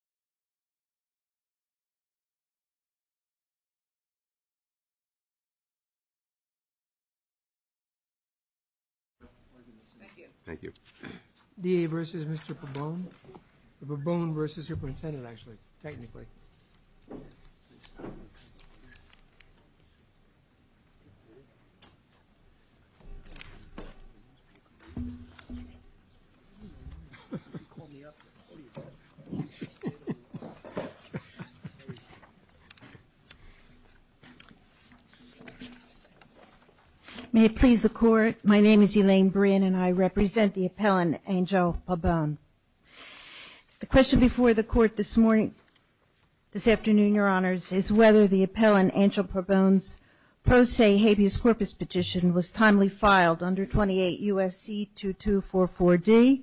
Babon v. Superint SCIMahanoy Written by David Woah Da vs. Mr. Pabon ...Pabon v.s. Superintendent actually...technically ...Pabon v.s. Superintendent actually...technically ...Pabon v.s. Superintendent actually...technically May it please the Court, my name is Elaine Brin and I represent the appellant Angel Babon. The question before the Court this morning, this afternoon, Your Honors, is whether the appellant Angel Babon's pro se habeas corpus petition was timely filed under 28 U.S.C. 2244D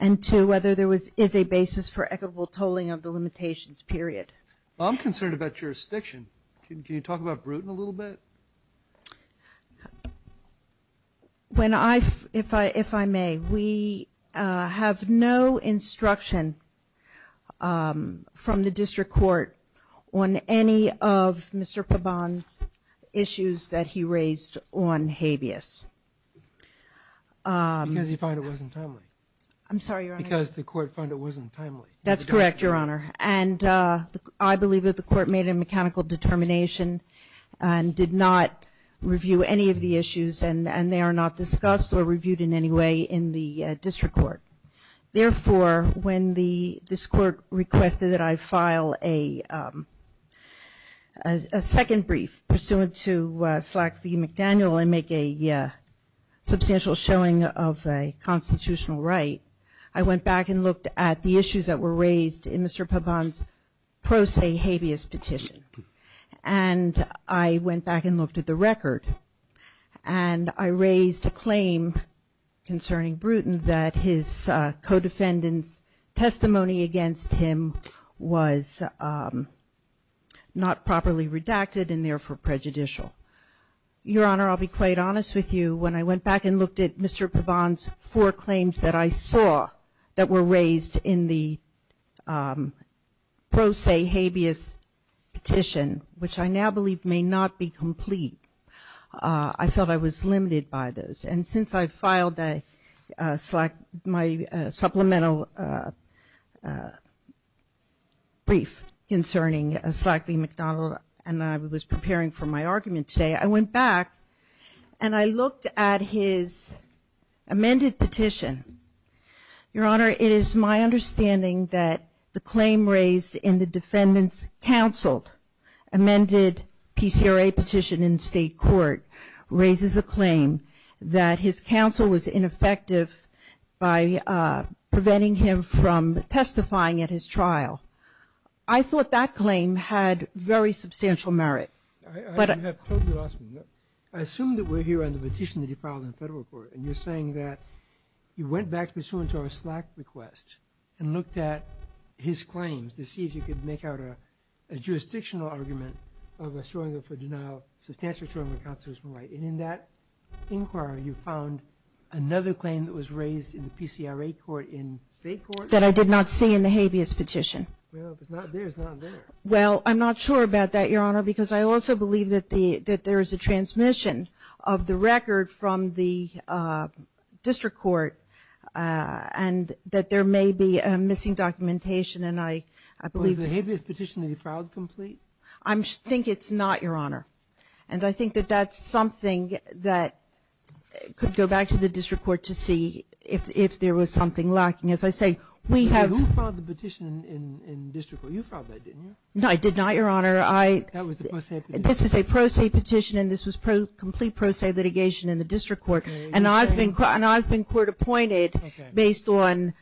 and two, whether there is a basis for equitable tolling of the limitations, period. I'm concerned about jurisdiction. Can you talk about Bruton a little bit? When I, if I may, we have no instruction from the District Court on any of Mr. Babon's issues that he raised on habeas. Because he found it wasn't timely. I'm sorry, Your Honor. Because the Court found it wasn't timely. That's correct, Your Honor. And I believe that the Court made a mechanical determination and did not review any of the issues and they are not discussed or reviewed in any way in the District Court. Therefore, when this Court requested that I file a second brief pursuant to Slack v. McDaniel and make a substantial showing of a constitutional right, I went back and looked at the issues that were raised in Mr. Babon's pro se habeas petition. And I went back and looked at the record and I raised a claim concerning Bruton that his co-defendant's testimony against him was not properly redacted and therefore prejudicial. Your Honor, I'll be quite honest with you. When I went back and looked at Mr. Babon's four claims that I saw that were raised in the pro se habeas petition, which I now believe may not be complete, I felt I was limited by those. And since I filed my supplemental brief concerning Slack v. McDaniel and I was preparing for my argument today, I went back and I looked at his amended petition. Your Honor, it is my understanding that the claim raised in the defendant's counseled amended PCRA petition in state court raises a claim that his counsel was ineffective by preventing him from testifying at his trial. I thought that claim had very substantial merit. I assume that we're here on the petition that you filed in the federal court and you're saying that you went back pursuant to our Slack request and looked at his claims to see if you could make out a jurisdictional argument of assuring him for denial, substantially assuring him that counsel was right. And in that inquiry, you found another claim that was raised in the PCRA court in state court. That I did not see in the habeas petition. Well, if it's not there, it's not there. Well, I'm not sure about that, Your Honor, because I also believe that there is a transmission of the record from the district court and that there may be missing documentation. And I believe Was the habeas petition that you filed complete? I think it's not, Your Honor. And I think that that's something that could go back to the district court to see if there was something lacking. As I say, we have You filed the petition in district court. You filed that, didn't you? No, I did not, Your Honor. That was the pro se petition. This is a pro se petition and this was complete pro se litigation in the district court. And I've been court appointed based on,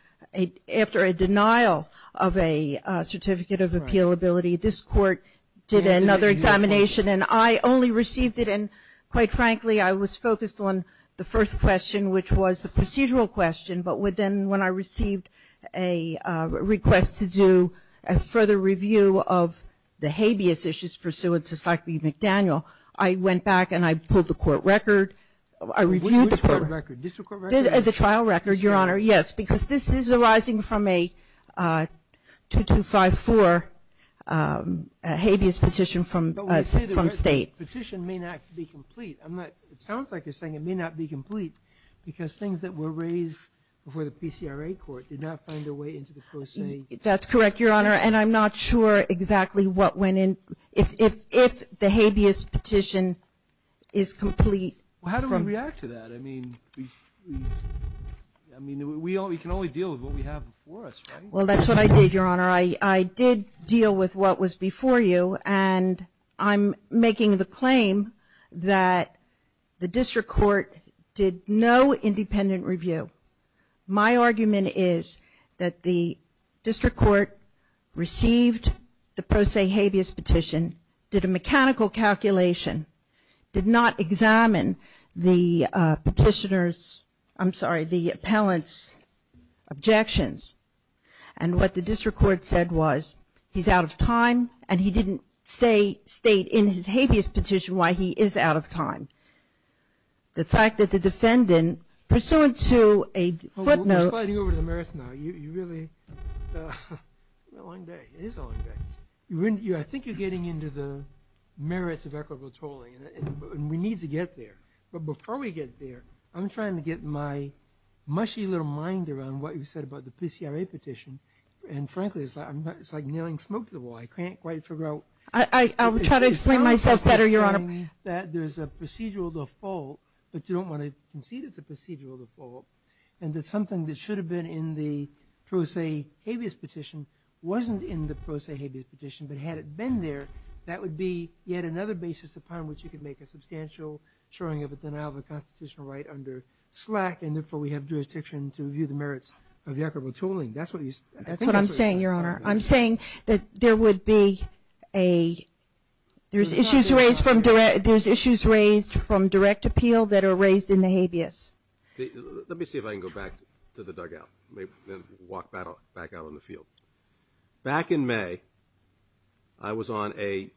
after a denial of a certificate of appealability, this court did another examination and I only received it in, quite frankly, I was focused on the first question, which was the procedural question. But when I received a request to do a further review of the habeas issues pursuant I went back and I pulled the court record. Which court record? District court record? The trial record, Your Honor. Yes, because this is arising from a 2254 habeas petition from state. But we say the petition may not be complete. It sounds like you're saying it may not be complete because things that were raised before the PCRA court did not find their way into the pro se. That's correct, Your Honor. And I'm not sure exactly what went in, if the habeas petition is complete. Well, how do we react to that? I mean, we can only deal with what we have before us, right? Well, that's what I did, Your Honor. I did deal with what was before you and I'm making the claim that the district court did no independent review. My argument is that the district court received the pro se habeas petition, did a mechanical calculation, did not examine the petitioner's, I'm sorry, the appellant's objections. And what the district court said was he's out of time and he didn't state in his habeas petition why he is out of time. The fact that the defendant, pursuant to a footnote. We're sliding over to the merits now. You really, what a long day. It is a long day. I think you're getting into the merits of equitable tolling and we need to get there. But before we get there, I'm trying to get my mushy little mind around what you said about the PCRA petition. And frankly, it's like nailing smoke to the wall. I will try to explain myself better, Your Honor. That there's a procedural default, but you don't want to concede it's a procedural default. And that something that should have been in the pro se habeas petition wasn't in the pro se habeas petition. But had it been there, that would be yet another basis upon which you could make a substantial showing of a denial of a constitutional right under SLAC and therefore we have jurisdiction to review the merits of the equitable tolling. That's what I'm saying, Your Honor. I'm saying that there would be a, there's issues raised from direct appeal that are raised in the habeas. Let me see if I can go back to the dugout and walk back out on the field. Back in May, I was on a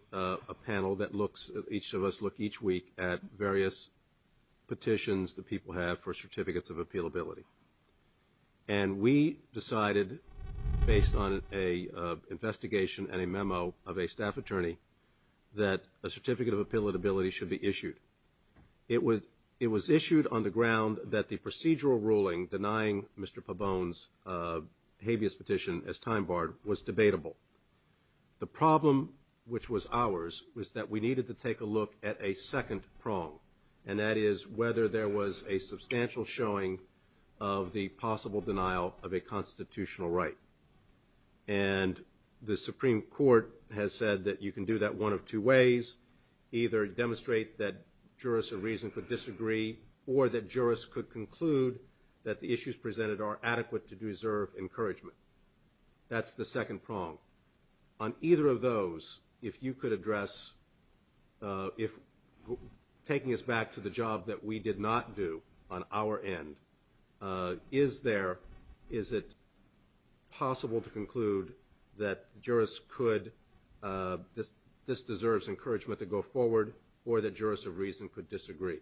panel that each of us look each week at various petitions that people have for certificates of appealability. And we decided, based on an investigation and a memo of a staff attorney, that a certificate of appealability should be issued. It was issued on the ground that the procedural ruling denying Mr. Pabon's habeas petition as time barred was debatable. The problem, which was ours, was that we needed to take a look at a second prong. And that is whether there was a substantial showing of the possible denial of a constitutional right. And the Supreme Court has said that you can do that one of two ways. Either demonstrate that jurists of reason could disagree or that jurists could conclude that the issues presented are adequate to deserve encouragement. That's the second prong. On either of those, if you could address if taking us back to the job that we did not do on our end, is there, is it possible to conclude that jurists could, this deserves encouragement to go forward, or that jurists of reason could disagree?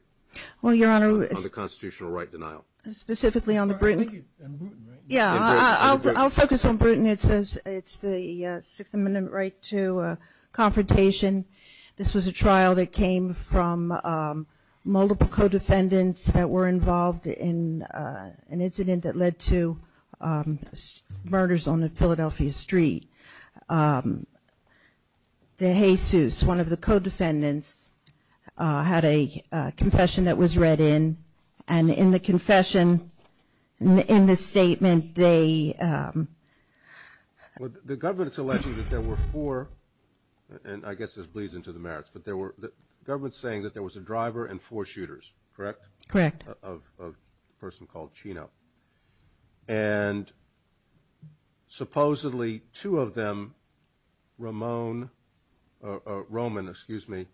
Well, Your Honor. On the constitutional right denial. Specifically on the Bruton. I think it's on the Bruton, right? Yeah. I'll focus on Bruton. It's the Sixth Amendment right to confrontation. This was a trial that came from multiple co-defendants that were involved in an incident that led to murders on Philadelphia Street. The Jesus, one of the co-defendants, had a confession that was read in. And in the confession, in the statement, they. Well, the government's alleging that there were four, and I guess this bleeds into the merits, but the government's saying that there was a driver and four shooters, correct? Correct. Of a person called Chino. And supposedly two of them, Ramon, or Roman, excuse me,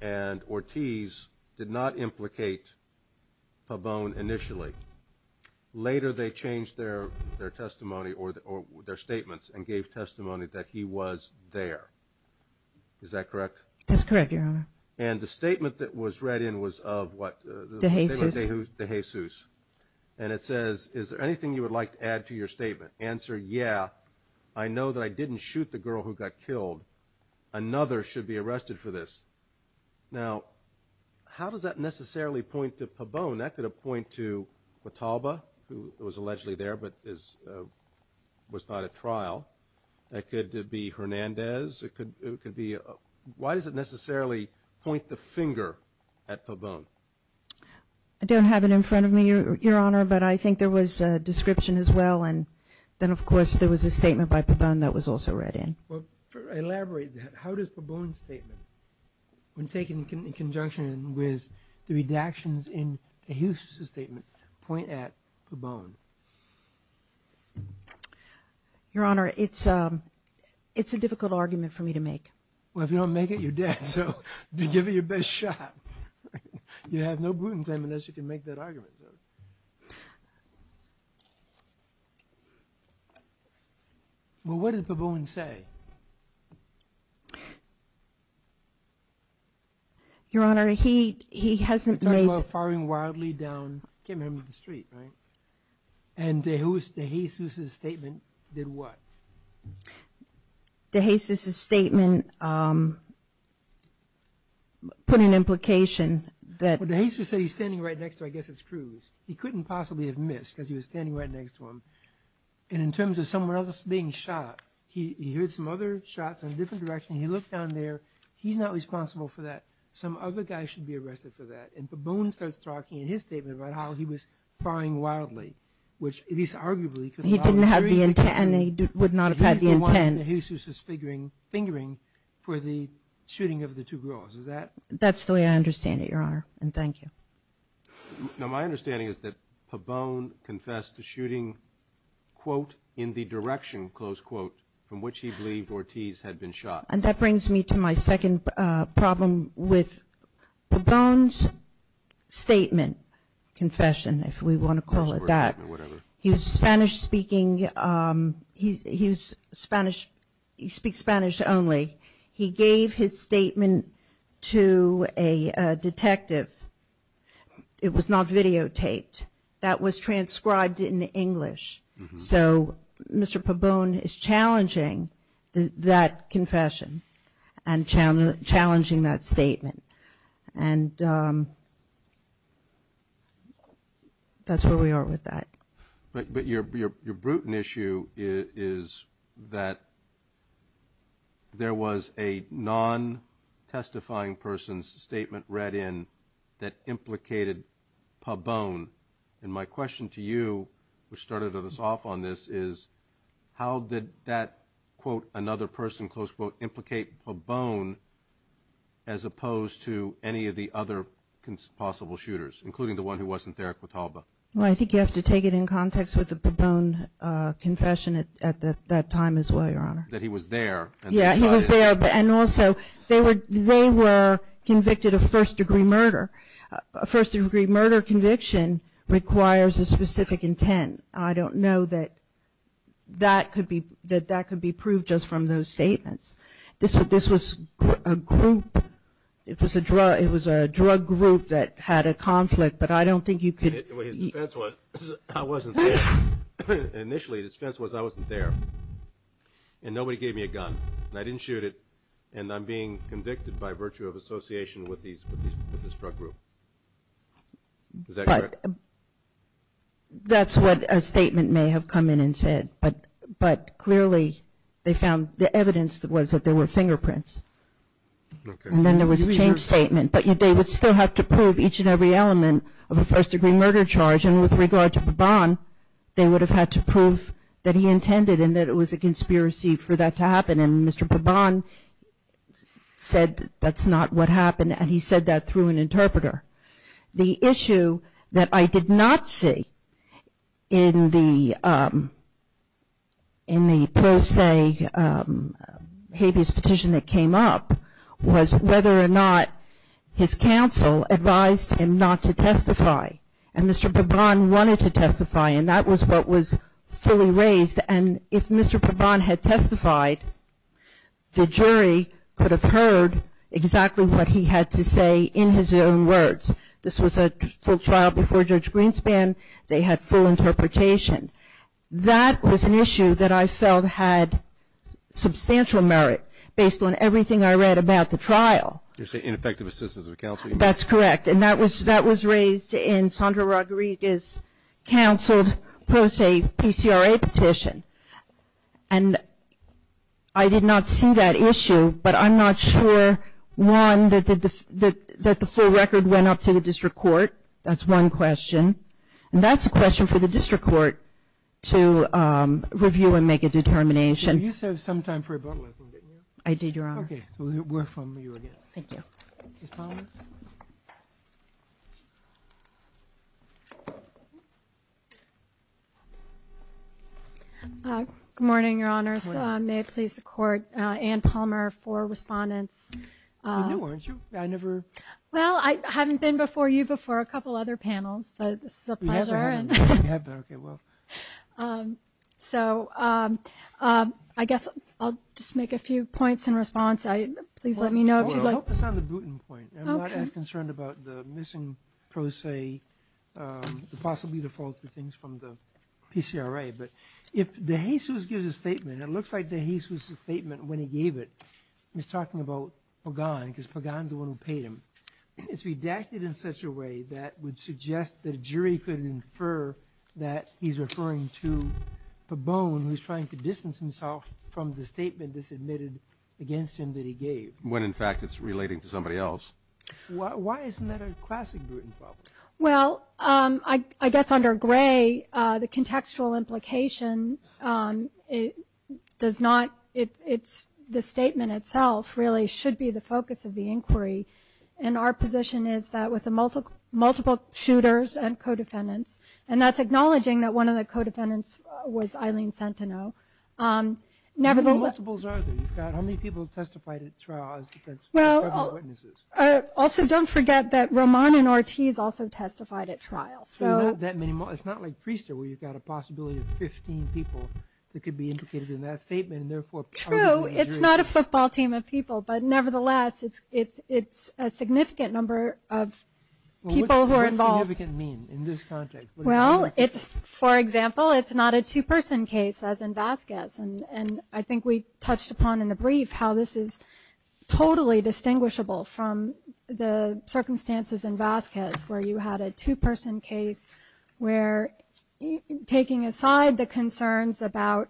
and Ortiz did not implicate Pabon initially. Later they changed their testimony or their statements and gave testimony that he was there. Is that correct? That's correct, Your Honor. And the statement that was read in was of what? The Jesus. The Jesus. The Jesus. And it says, is there anything you would like to add to your statement? Answer, yeah. I know that I didn't shoot the girl who got killed. Another should be arrested for this. Now, how does that necessarily point to Pabon? That could point to Patalba, who was allegedly there but was not at trial. That could be Hernandez. It could be. Why does it necessarily point the finger at Pabon? I don't have it in front of me, Your Honor, but I think there was a description as well and then, of course, there was a statement by Pabon that was also read in. Elaborate that. How does Pabon's statement, when taken in conjunction with the redactions in the Houston statement, point at Pabon? Your Honor, it's a difficult argument for me to make. Well, if you don't make it, you're dead, so give it your best shot. You have no gluten claim unless you can make that argument. Well, what did Pabon say? Your Honor, he hasn't made the statement. You are firing wildly down Kim Herman's street, right? And De Jesus' statement did what? De Jesus' statement put an implication that Well, De Jesus said he's standing right next to, I guess it's Cruz. He couldn't possibly have missed because he was standing right next to him. And in terms of someone else being shot, he heard some other shots in a different direction. He looked down there. He's not responsible for that. Some other guy should be arrested for that. And Pabon starts talking in his statement about how he was firing wildly, which at least arguably could have followed the street. He didn't have the intent and he would not have had the intent. De Jesus' fingering for the shooting of the two girls, is that? That's the way I understand it, Your Honor, and thank you. Now, my understanding is that Pabon confessed to shooting, quote, in the direction, close quote, from which he believed Ortiz had been shot. And that brings me to my second problem with Pabon's statement, confession, if we want to call it that. He was Spanish speaking. He speaks Spanish only. He gave his statement to a detective. It was not videotaped. That was transcribed in English. So Mr. Pabon is challenging that confession and challenging that statement. And that's where we are with that. But your brutal issue is that there was a non-testifying person's statement read in that implicated Pabon. And my question to you, which started us off on this, is how did that, quote, another person, close quote, implicate Pabon as opposed to any of the other possible shooters, including the one who wasn't there at Quetalba? Well, I think you have to take it in context with the Pabon confession at that time as well, Your Honor. That he was there. Yeah, he was there. And also, they were convicted of first degree murder. A first degree murder conviction requires a specific intent. And I don't know that that could be proved just from those statements. This was a group, it was a drug group that had a conflict, but I don't think you could. His defense was I wasn't there. Initially his defense was I wasn't there. And nobody gave me a gun. And I didn't shoot it. And I'm being convicted by virtue of association with this drug group. Is that correct? That's what a statement may have come in and said. But clearly they found the evidence was that there were fingerprints. And then there was a change statement. But they would still have to prove each and every element of a first degree murder charge. And with regard to Pabon, they would have had to prove that he intended and that it was a conspiracy for that to happen. And Mr. Pabon said that's not what happened. And he said that through an interpreter. The issue that I did not see in the pro se habeas petition that came up was whether or not his counsel advised him not to testify. And Mr. Pabon wanted to testify, and that was what was fully raised. And if Mr. Pabon had testified, the jury could have heard exactly what he had to say in his own words. This was a full trial before Judge Greenspan. They had full interpretation. That was an issue that I felt had substantial merit based on everything I read about the trial. You're saying ineffective assistance of counsel? That's correct. And that was raised in Sandra Rodriguez's counseled pro se PCRA petition. And I did not see that issue, but I'm not sure, one, that the full record went up to the district court. That's one question. And that's a question for the district court to review and make a determination. You said some time for rebuttal, I think, didn't you? I did, Your Honor. We're from you again. Thank you. Ms. Palmer. Thank you. Good morning, Your Honors. Good morning. May it please the Court, Ann Palmer for respondents. I knew her, didn't you? I never. Well, I haven't been before you before a couple other panels, but this is a pleasure. You have been. You have been. Okay, well. So I guess I'll just make a few points in response. Please let me know if you'd like. I'll focus on the Bruton point. Okay. I'm not as concerned about the missing pro se, possibly the faulty things from the PCRA. But if DeJesus gives a statement, it looks like DeJesus' statement when he gave it, he's talking about Pagan because Pagan's the one who paid him. It's redacted in such a way that would suggest that a jury could infer that he's referring to Pabon, who's trying to distance himself from the statement that's admitted against him that he gave. When, in fact, it's relating to somebody else. Why isn't that a classic Bruton problem? Well, I guess under Gray, the contextual implication does not, the statement itself really should be the focus of the inquiry. And our position is that with the multiple shooters and co-defendants, and that's acknowledging that one of the co-defendants was Eileen Centeno. How many multiples are there? How many people testified at trial as defense witnesses? Also, don't forget that Roman and Ortiz also testified at trial. It's not like Priester where you've got a possibility of 15 people that could be implicated in that statement. True. It's not a football team of people. But nevertheless, it's a significant number of people who are involved. What does significant mean in this context? Well, for example, it's not a two-person case as in Vasquez. And I think we touched upon in the brief how this is totally distinguishable from the circumstances in Vasquez where you had a two-person case where taking aside the concerns about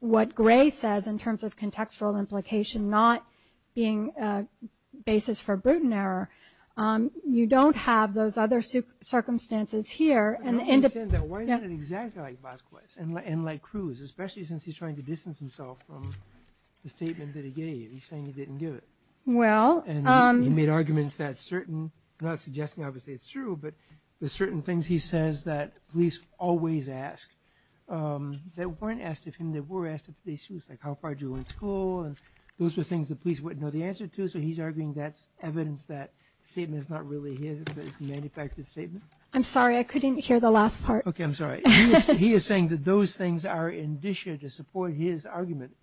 what Gray says in terms of contextual implication not being a basis for Bruton error, you don't have those other circumstances here. I don't understand that. Why is it exactly like Vasquez and like Cruz, especially since he's trying to distance himself from the statement that he gave? He's saying he didn't give it. Well. And he made arguments that certain, not suggesting obviously it's true, but there's certain things he says that police always ask that weren't asked of him, that were asked of police. It was like, how far did you go in school? And those were things the police wouldn't know the answer to. So he's arguing that's evidence that the statement is not really his. It's a manufactured statement. I'm sorry. I couldn't hear the last part. Okay. I'm sorry. He is saying that those things are indicia to support his argument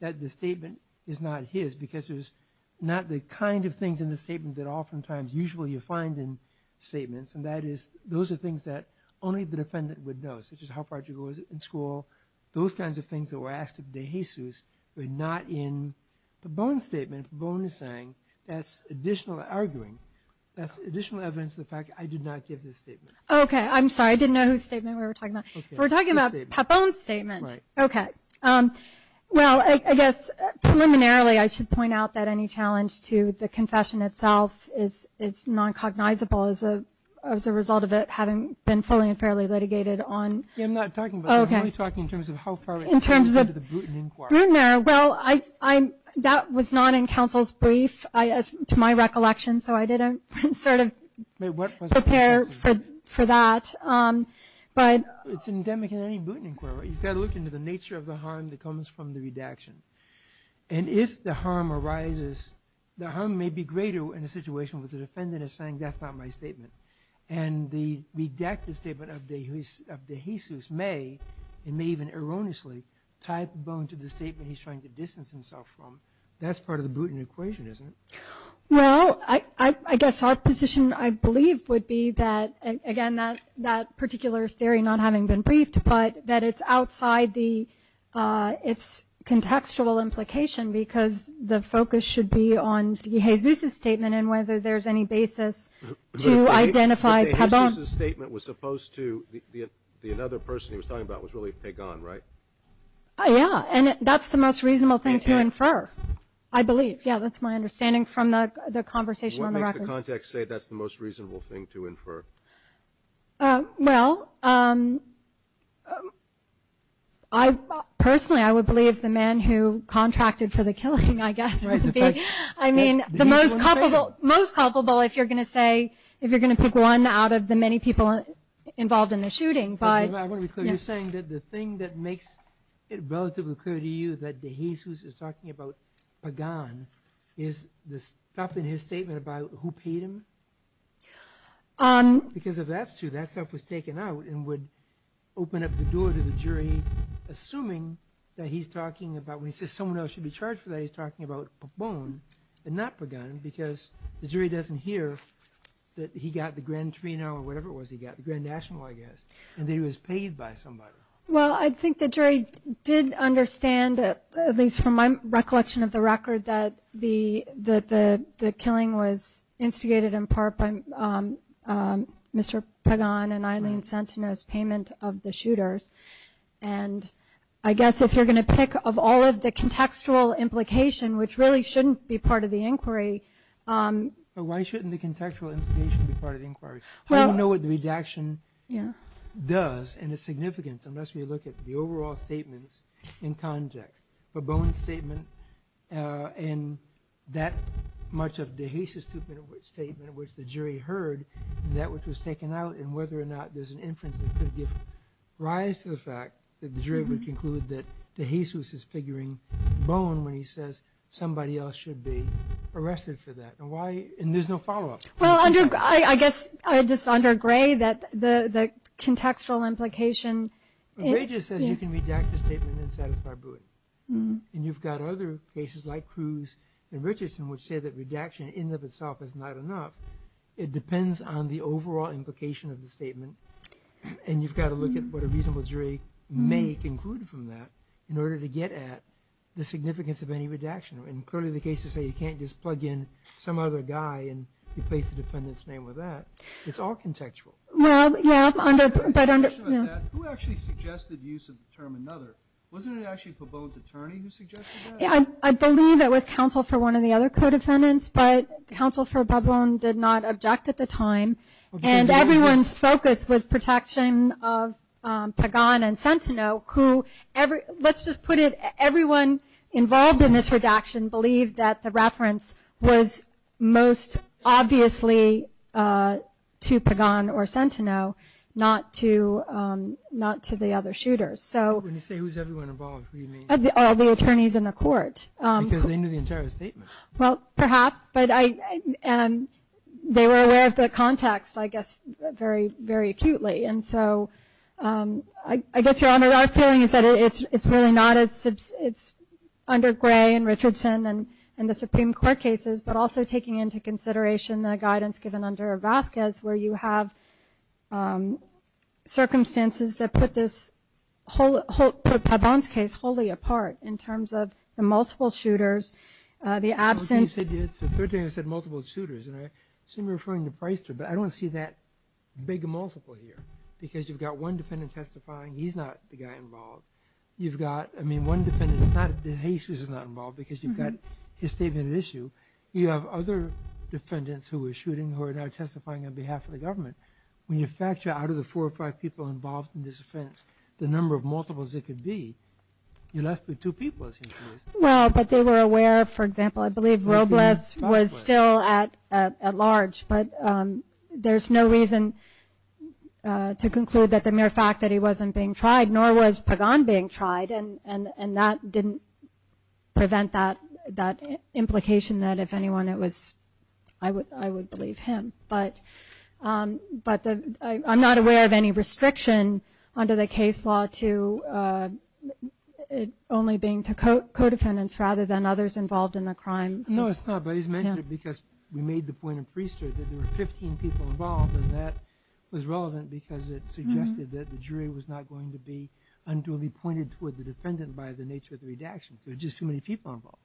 that the statement is not his because there's not the kind of things in the statement that oftentimes usually you find in statements, and that is those are things that only the defendant would know, such as how far did you go in school. Those kinds of things that were asked of De Jesus were not in Pabon's statement. That's additional arguing. That's additional evidence of the fact I did not give this statement. Okay. I'm sorry. I didn't know whose statement we were talking about. We're talking about Pabon's statement. Right. Okay. Well, I guess preliminarily I should point out that any challenge to the confession itself is non-cognizable as a result of it having been fully and fairly litigated on. I'm not talking about that. Okay. I'm only talking in terms of how far it's gone under the Bruton Inquiry. Bruton Inquiry. Well, that was not in counsel's brief, to my recollection, so I didn't sort of prepare for that. It's endemic in any Bruton Inquiry. You've got to look into the nature of the harm that comes from the redaction. And if the harm arises, the harm may be greater in a situation where the defendant is saying, that's not my statement. And the redacted statement of De Jesus may, and may even erroneously, tie Pabon to the statement he's trying to distance himself from. That's part of the Bruton equation, isn't it? Well, I guess our position, I believe, would be that, again, that particular theory not having been briefed, but that it's outside its contextual implication because the focus should be on De Jesus' statement and whether there's any basis to identify Pabon. But De Jesus' statement was supposed to, another person he was talking about was really Pabon, right? Yeah, and that's the most reasonable thing to infer, I believe. Yeah, that's my understanding from the conversation on the record. What makes the context say that's the most reasonable thing to infer? Well, personally, I would believe the man who contracted for the killing, I guess, would be. I mean, the most culpable, if you're going to say, if you're going to pick one out of the many people involved in the shooting. I want to be clear, you're saying that the thing that makes it relatively clear to you that De Jesus is talking about Pabon is the stuff in his statement about who paid him? Because if that's true, that stuff was taken out and would open up the door to the jury, assuming that he's talking about, when he says someone else should be charged for that, that he's talking about Pabon and not Pagan, because the jury doesn't hear that he got the Grand Trino or whatever it was he got, the Grand National, I guess, and that he was paid by somebody. Well, I think the jury did understand, at least from my recollection of the record, that the killing was instigated in part by Mr. Pagan and Eileen Centeno's payment of the shooters. And I guess if you're going to pick of all of the contextual implication, which really shouldn't be part of the inquiry. Why shouldn't the contextual implication be part of the inquiry? I don't know what the redaction does and its significance, unless we look at the overall statements in context. Pabon's statement and that much of De Jesus' statement, which the jury heard, and that which was taken out, and whether or not there's an inference that could give rise to the fact that the jury would conclude that De Jesus is figuring Pabon when he says somebody else should be arrested for that. And there's no follow-up. Well, I guess I just undergray the contextual implication. Regis says you can redact the statement and satisfy Brewett. And you've got other cases like Cruz and Richardson, which say that redaction in and of itself is not enough. It depends on the overall implication of the statement. And you've got to look at what a reasonable jury may conclude from that in order to get at the significance of any redaction. And clearly the cases say you can't just plug in some other guy and replace the defendant's name with that. It's all contextual. Well, yeah, but under – Who actually suggested use of the term another? Wasn't it actually Pabon's attorney who suggested that? I believe it was counsel for one of the other co-defendants, but counsel for Pabon did not object at the time. And everyone's focus was protection of Pagon and Sentineau, who – let's just put it – everyone involved in this redaction believed that the reference was most obviously to Pagon or Sentineau, not to the other shooters. When you say who's everyone involved, who do you mean? All the attorneys in the court. Because they knew the entire statement. Well, perhaps, but they were aware of the context, I guess, very acutely. And so I guess, Your Honor, our feeling is that it's really not – it's under Gray and Richardson and the Supreme Court cases, but also taking into consideration the guidance given under Vazquez where you have circumstances that put this – put Pabon's case wholly apart in terms of the multiple shooters, the absence – The third thing I said, multiple shooters, and I seem to be referring to Priester, but I don't see that big a multiple here. Because you've got one defendant testifying, he's not the guy involved. You've got – I mean, one defendant is not – Hayes is not involved because you've got his statement at issue. You have other defendants who were shooting who are now testifying on behalf of the government. When you factor out of the four or five people involved in this offense, the number of multiples it could be, you're left with two people. Well, but they were aware, for example, I believe Robles was still at large. But there's no reason to conclude that the mere fact that he wasn't being tried, nor was Pabon being tried, and that didn't prevent that implication that if anyone, it was – I would believe him. But I'm not aware of any restriction under the case law to only being to co-defendants rather than others involved in the crime. No, it's not. But he's mentioned it because we made the point in Priester that there were 15 people involved, and that was relevant because it suggested that the jury was not going to be unduly pointed toward the defendant by the nature of the redaction. There were just too many people involved.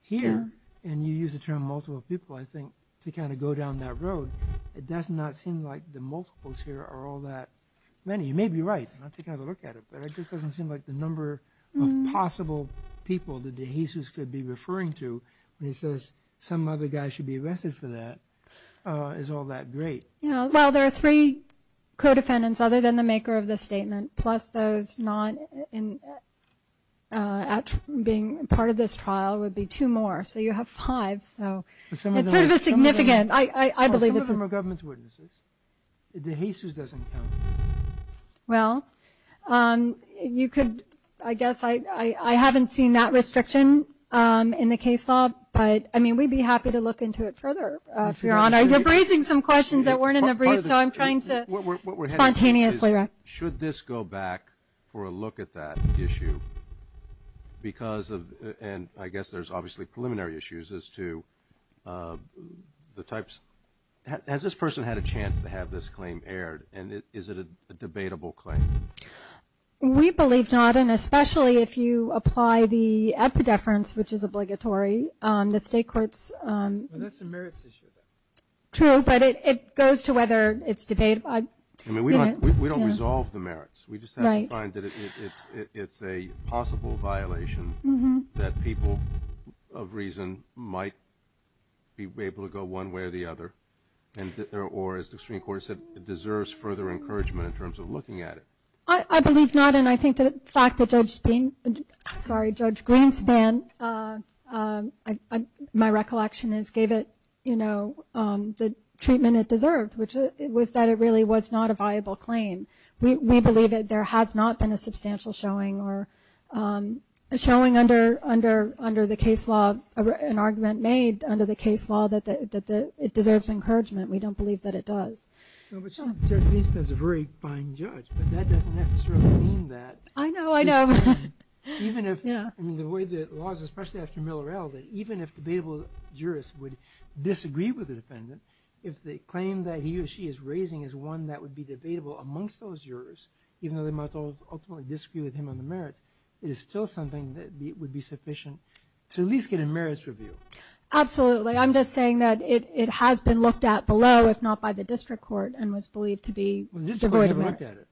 Here, and you use the term multiple people, I think, to kind of go down that road, it does not seem like the multiples here are all that many. You may be right. I'm not taking another look at it, but it just doesn't seem like the number of possible people that de Jesus could be referring to when he says some other guy should be arrested for that is all that great. Well, there are three co-defendants other than the maker of the statement, plus those not being part of this trial would be two more. So you have five. So it's sort of a significant – Some of them are government's witnesses. De Jesus doesn't count. Well, you could – I guess I haven't seen that restriction in the case law, but, I mean, we'd be happy to look into it further, Your Honor. You're raising some questions that weren't in the brief, so I'm trying to spontaneously – Should this go back for a look at that issue because of – and I guess there's obviously preliminary issues as to the types – has this person had a chance to have this claim aired, and is it a debatable claim? We believe not, and especially if you apply the epideference, which is obligatory, the state courts – Well, that's a merits issue. True, but it goes to whether it's debatable. I mean, we don't resolve the merits. We just have to find that it's a possible violation that people of reason might be able to go one way or the other, or, as the Supreme Court said, it deserves further encouragement in terms of looking at it. I believe not, and I think the fact that Judge Green – sorry, Judge Greenspan, my recollection is, gave it the treatment it deserved, which was that it really was not a viable claim. We believe that there has not been a substantial showing or showing under the case law, an argument made under the case law that it deserves encouragement. We don't believe that it does. No, but Judge Greenspan's a very fine judge, but that doesn't necessarily mean that – I know, I know. Even if – I mean, the way the law is, especially after Miller L., that even if debatable jurists would disagree with the defendant, if the claim that he or she is raising is one that would be debatable amongst those jurors, even though they might ultimately disagree with him on the merits, it is still something that would be sufficient to at least get a merits review. Absolutely. I'm just saying that it has been looked at below, if not by the district court, and was believed to be devoid of merit. Well, the district court never looked at it.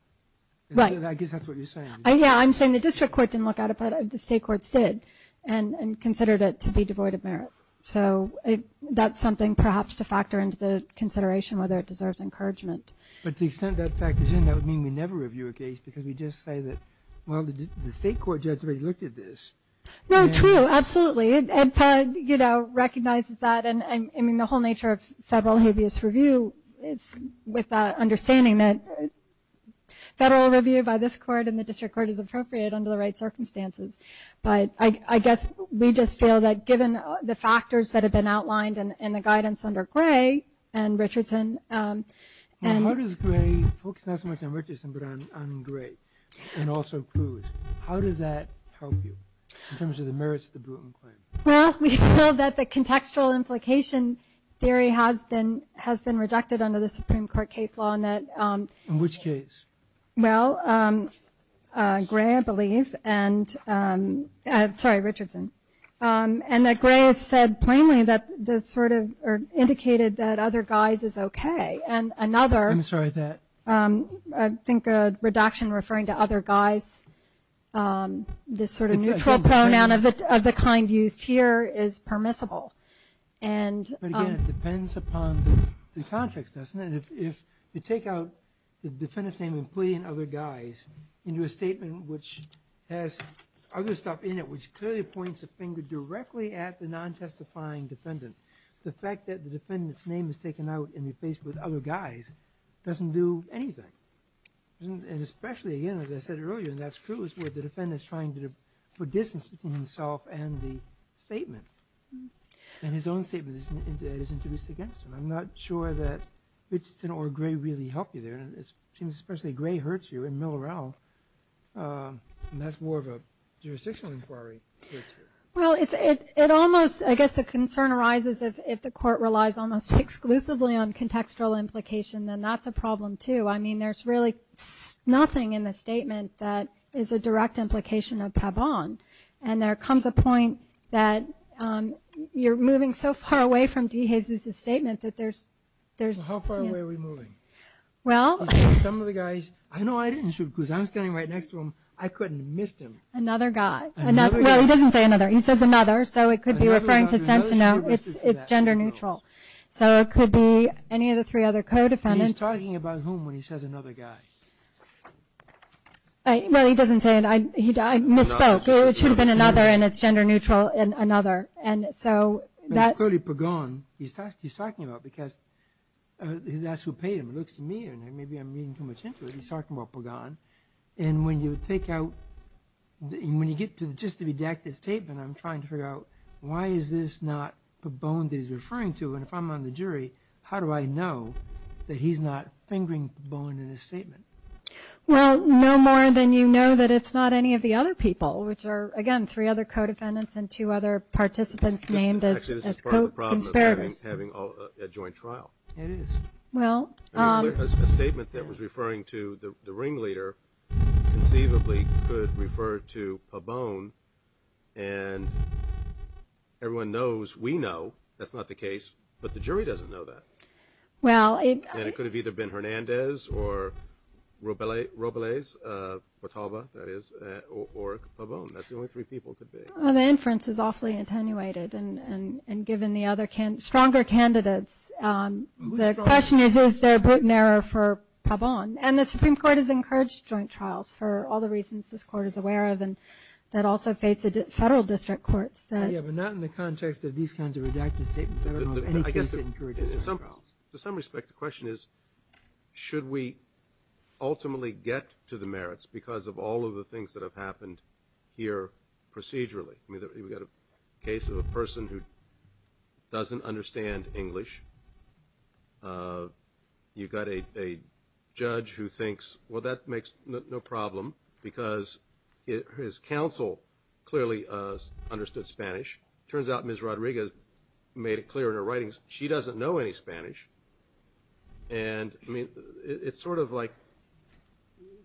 Right. I guess that's what you're saying. Yeah, I'm saying the district court didn't look at it, but the state courts did, and considered it to be devoid of merit. So that's something perhaps to factor into the consideration whether it deserves encouragement. But to the extent that factors in, that would mean we never review a case, because we just say that, well, the state court judge already looked at this. No, true. Absolutely. And, you know, recognizes that. I mean, the whole nature of federal habeas review is with the understanding that federal review by this court and the district court is appropriate under the right circumstances. But I guess we just feel that given the factors that have been outlined and the guidance under Gray and Richardson Well, how does Gray focus not so much on Richardson, but on Gray and also Cruz? How does that help you in terms of the merits of the Bruton claim? Well, we feel that the contextual implication theory has been rejected under the Supreme Court case law and that In which case? Well, Gray, I believe, and sorry, Richardson, and that Gray has said plainly that this sort of indicated that other guys is okay, and another I'm sorry, that? I think a reduction referring to other guys, this sort of neutral pronoun of the kind used here is permissible. But again, it depends upon the context, doesn't it? If you take out the defendant's name including other guys into a statement which has other stuff in it, which clearly points a finger directly at the non-testifying defendant, the fact that the defendant's name is taken out and replaced with other guys doesn't do anything. And especially, again, as I said earlier, and that's Cruz where the defendant is trying to put distance between himself and the statement. And his own statement is introduced against him. I'm not sure that Richardson or Gray really help you there, and it seems especially Gray hurts you in Mill Row, and that's more of a jurisdictional inquiry. Well, it almost, I guess the concern arises if the court relies almost exclusively on contextual implication, then that's a problem too. I mean, there's really nothing in the statement that is a direct implication of Pavon. And there comes a point that you're moving so far away from DeJesus' statement that there's... How far away are we moving? Some of the guys, I know I didn't shoot Cruz. I'm standing right next to him. I couldn't have missed him. Another guy. Well, he doesn't say another. He says another, so it could be referring to Sentinel. It's gender neutral. So it could be any of the three other co-defendants. He's talking about whom when he says another guy. Well, he doesn't say it. I misspoke. It should have been another, and it's gender neutral in another. And so that... It's clearly Pagon he's talking about because that's who paid him, looks to me. Maybe I'm reading too much into it. He's talking about Pagon. And when you take out... When you get to just the redacted statement, I'm trying to figure out why is this not Pagon that he's referring to? And if I'm on the jury, how do I know that he's not fingering Pagon in his statement? Well, no more than you know that it's not any of the other people, which are, again, three other co-defendants and two other participants named as co-conspirators. Actually, this is part of the problem of having a joint trial. It is. Well... A statement that was referring to the ringleader conceivably could refer to Pagon, and everyone knows, we know that's not the case, but the jury doesn't know that. Well, it... And it could have either been Hernandez or Robles, or Pagon. That's the only three people it could be. Well, the inference is awfully attenuated. And given the other stronger candidates, the question is, is there a brutal error for Pagon? And the Supreme Court has encouraged joint trials for all the reasons this Court is aware of and that also face federal district courts. Yeah, but not in the context of these kinds of redacted statements. I don't know of any case that encourages joint trials. To some respect, the question is, should we ultimately get to the merits because of all of the things that have happened here procedurally? I mean, we've got a case of a person who doesn't understand English. You've got a judge who thinks, well, that makes no problem because his counsel clearly understood Spanish. Turns out Ms. Rodriguez made it clear in her writings she doesn't know any Spanish. And, I mean, it's sort of like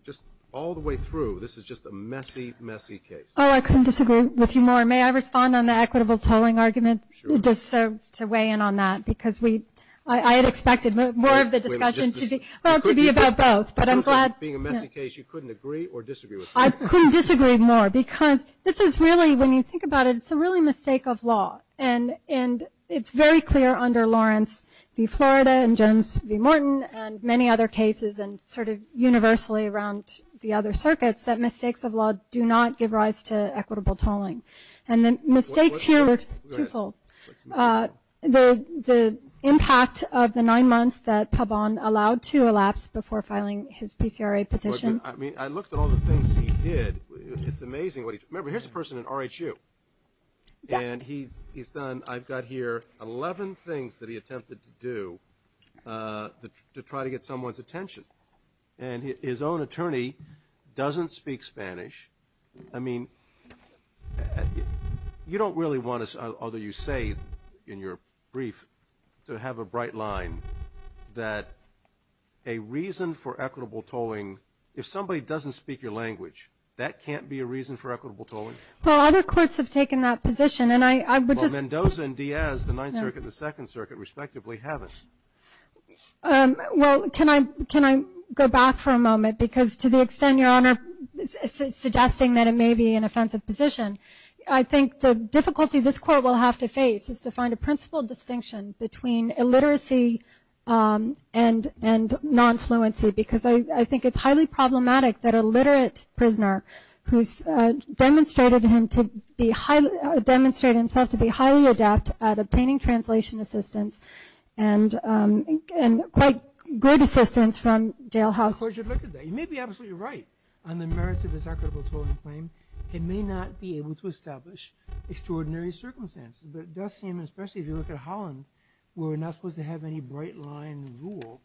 just all the way through, this is just a messy, messy case. Oh, I couldn't disagree with you more. May I respond on the equitable tolling argument just to weigh in on that? Because I had expected more of the discussion to be about both. But I'm glad... Being a messy case, you couldn't agree or disagree with me. I couldn't disagree more because this is really, when you think about it, it's a really mistake of law. And it's very clear under Lawrence v. Florida and Jones v. Morton and many other cases and sort of universally around the other circuits that mistakes of law do not give rise to equitable tolling. And the mistakes here are twofold. The impact of the nine months that Pabon allowed to elapse before filing his PCRA petition. I mean, I looked at all the things he did. It's amazing what he did. Remember, here's a person in RHU, and he's done, I've got here, 11 things that he attempted to do to try to get someone's attention. And his own attorney doesn't speak Spanish. I mean, you don't really want to, although you say in your brief, to have a bright line that a reason for equitable tolling, if somebody doesn't speak your language, that can't be a reason for equitable tolling? Well, other courts have taken that position, and I would just... But Mendoza and Diaz, the Ninth Circuit and the Second Circuit, respectively, haven't. Well, can I go back for a moment? Because to the extent, Your Honor, suggesting that it may be an offensive position, I think the difficulty this court will have to face is to find a principal distinction between illiteracy and non-fluency. Because I think it's highly problematic that a literate prisoner, who's demonstrated himself to be highly adept at obtaining translation assistance and quite great assistance from jailhouse... Of course, you'd look at that. You may be absolutely right on the merits of this equitable tolling claim. It may not be able to establish extraordinary circumstances. But it does seem, especially if you look at Holland, where we're not supposed to have any bright line rule,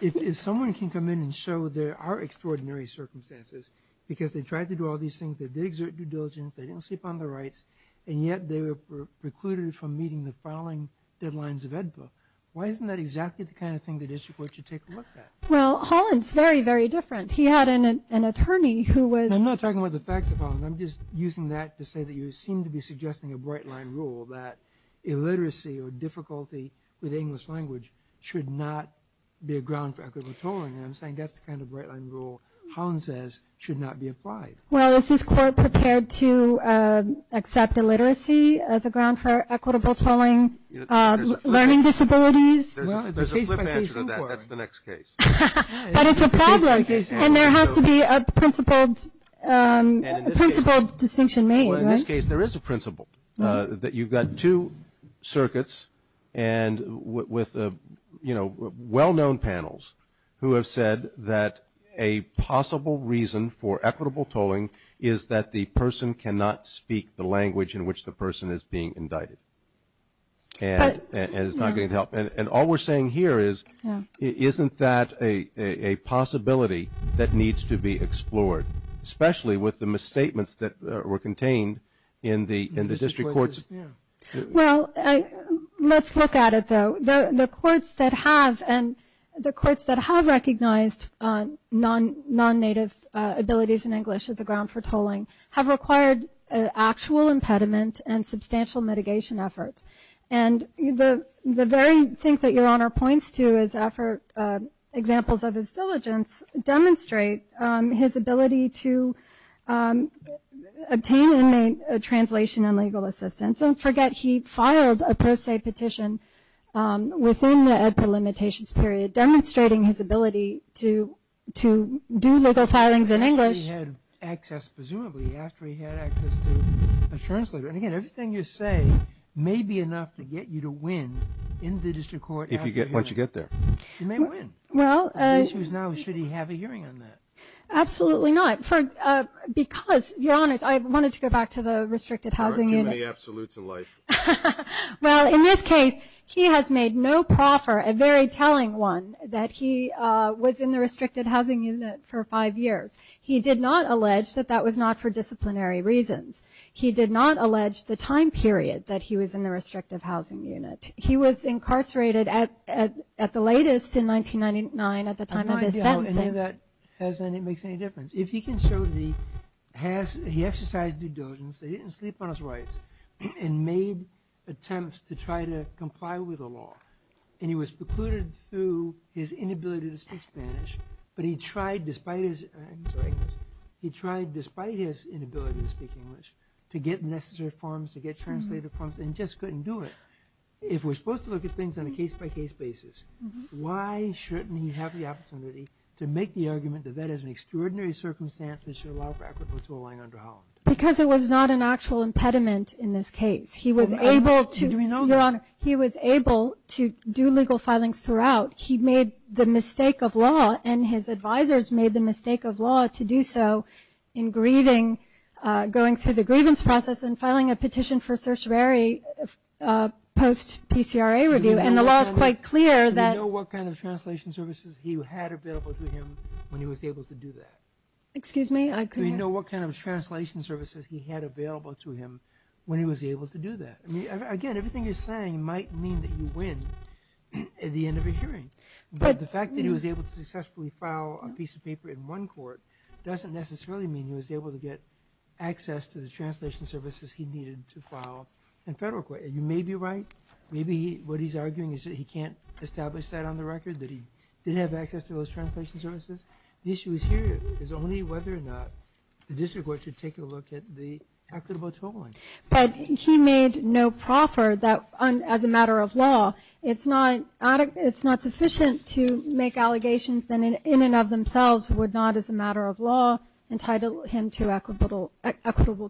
if someone can come in and show there are extraordinary circumstances, because they tried to do all these things, they did exert due diligence, they didn't sleep on their rights, and yet they were precluded from meeting the filing deadlines of EDPA. Why isn't that exactly the kind of thing the district court should take a look at? Well, Holland's very, very different. He had an attorney who was... I'm not talking about the facts of Holland. I'm just using that to say that you seem to be suggesting a bright line rule that illiteracy or difficulty with English language should not be a ground for equitable tolling. And I'm saying that's the kind of bright line rule Holland says should not be applied. Well, is this court prepared to accept illiteracy as a ground for equitable tolling? Learning disabilities? There's a flip answer to that. That's the next case. But it's a problem. And there has to be a principled distinction made, right? Well, in this case, there is a principle that you've got two circuits and with, you know, well-known panels who have said that a possible reason for equitable tolling is that the person cannot speak the language in which the person is being indicted. And it's not going to help. And all we're saying here is isn't that a possibility that needs to be explored, especially with the misstatements that were contained in the district courts? Well, let's look at it, though. The courts that have recognized non-native abilities in English as a ground for tolling have required actual impediment and substantial mitigation efforts. And the very things that Your Honor points to as examples of his diligence demonstrate his ability to obtain and make a translation and legal assistance. Don't forget he filed a pro se petition within the EDPA limitations period, demonstrating his ability to do legal filings in English. He had access, presumably, after he had access to a translator. And, again, everything you say may be enough to get you to win in the district court. Once you get there. You may win. The issue is now should he have a hearing on that? Absolutely not. Because, Your Honor, I wanted to go back to the restricted housing unit. There aren't too many absolutes in life. Well, in this case, he has made no proffer, a very telling one, that he was in the restricted housing unit for five years. He did not allege that that was not for disciplinary reasons. He did not allege the time period that he was in the restricted housing unit. He was incarcerated at the latest in 1999 at the time of his sentence. I have no idea how any of that makes any difference. If he can show that he exercised due diligence, that he didn't sleep on his rights, and made attempts to try to comply with the law, and he was precluded through his inability to speak Spanish, but he tried despite his inability to speak English to get necessary forms, to get translated forms, and just couldn't do it. If we're supposed to look at things on a case-by-case basis, why shouldn't he have the opportunity to make the argument that that is an extraordinary circumstance that should allow for equitable to align under Holland? Because it was not an actual impediment in this case. He was able to do legal filings throughout. He made the mistake of law, and his advisors made the mistake of law to do so in going through the grievance process and filing a petition for certiorari post-PCRA review, and the law is quite clear that- Do we know what kind of translation services he had available to him when he was able to do that? Excuse me? Do we know what kind of translation services he had available to him when he was able to do that? Again, everything you're saying might mean that you win at the end of a hearing, but the fact that he was able to successfully file a piece of paper in one court doesn't necessarily mean he was able to get access to the translation services he needed to file in federal court. You may be right. Maybe what he's arguing is that he can't establish that on the record, that he didn't have access to those translation services. The issue here is only whether or not the district court should take a look at the equitable totaling. But he made no proffer that, as a matter of law, it's not sufficient to make allegations that in and of themselves would not, as a matter of law, entitle him to equitable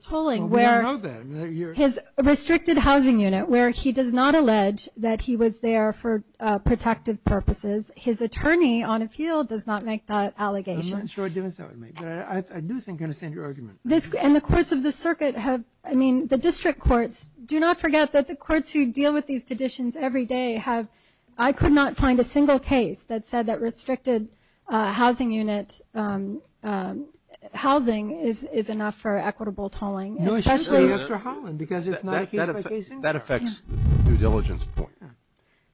tolling. Well, we don't know that. His restricted housing unit, where he does not allege that he was there for protective purposes, his attorney on appeal does not make that allegation. I'm not sure I'd do the same. But I do think I understand your argument. And the courts of the circuit have- I could not find a single case that said that restricted housing unit housing is enough for equitable tolling. No, it's true, Dr. Holland, because it's not a case-by-case involvement. That affects your diligence point.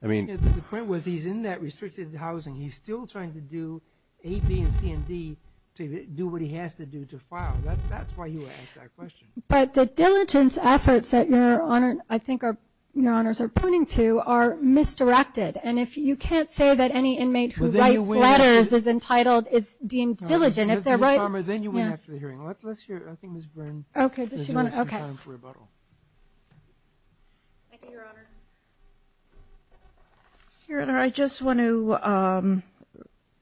The point was he's in that restricted housing. He's still trying to do A, B, and C and D to do what he has to do to file. That's why you asked that question. But the diligence efforts that Your Honor, I think Your Honors are pointing to, are misdirected. And if you can't say that any inmate who writes letters is entitled, is deemed diligent- Ms. Palmer, then you win after the hearing. Let's hear, I think Ms. Byrne- Okay, does she want to- Okay. Thank you, Your Honor. Your Honor, I just want to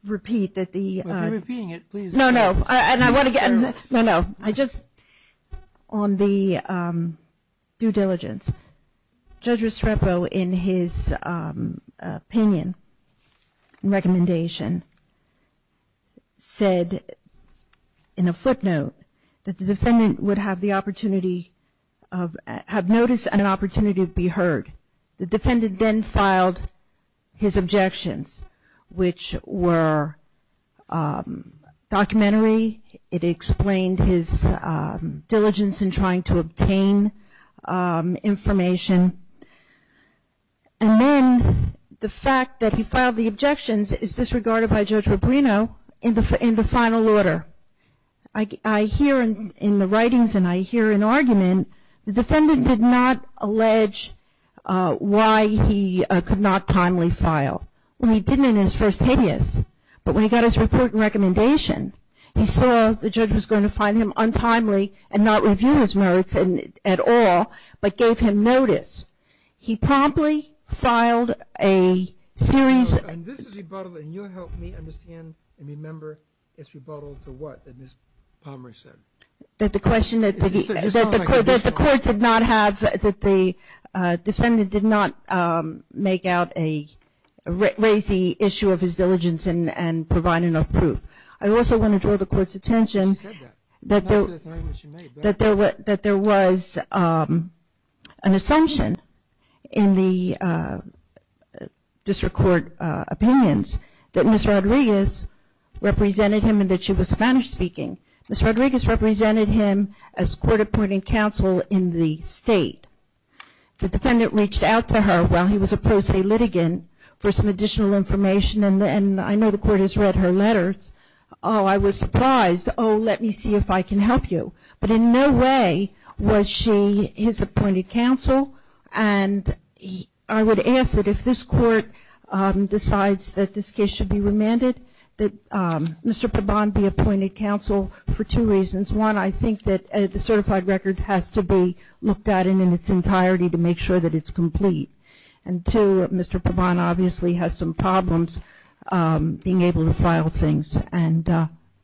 repeat that the- If you're repeating it, please- No, no. No, no. I just, on the due diligence, Judge Restrepo, in his opinion and recommendation, said in a footnote that the defendant would have the opportunity of, have notice and an opportunity to be heard. The defendant then filed his objections, which were documentary. It explained his diligence in trying to obtain information. And then the fact that he filed the objections is disregarded by Judge Rubino in the final order. I hear in the writings, and I hear in argument, the defendant did not allege why he could not timely file. Well, he didn't in his first hideous. But when he got his report and recommendation, he saw the judge was going to find him untimely and not review his notes at all, but gave him notice. He promptly filed a series- And this is rebuttal, and you'll help me understand and remember it's rebuttal to what that Ms. Palmer said. That the question that the court did not have, that the defendant did not make out a racy issue of his diligence and provide enough proof. I also want to draw the court's attention- She said that. That there was an assumption in the district court opinions that Ms. Rodriguez represented him and that she was Spanish-speaking. Ms. Rodriguez represented him as court-appointing counsel in the state. The defendant reached out to her while he was a pro se litigant for some additional information, and I know the court has read her letters. Oh, I was surprised. Oh, let me see if I can help you. But in no way was she his appointed counsel. And I would ask that if this court decides that this case should be remanded, that Mr. Pabon be appointed counsel for two reasons. One, I think that the certified record has to be looked at in its entirety to make sure that it's complete. And two, Mr. Pabon obviously has some problems being able to file things. And,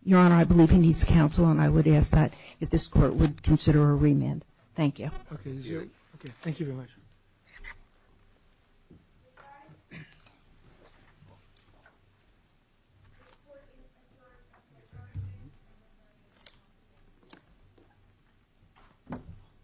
Your Honor, I believe he needs counsel, and I would ask that if this court would consider a remand. Thank you. Okay. Thank you very much.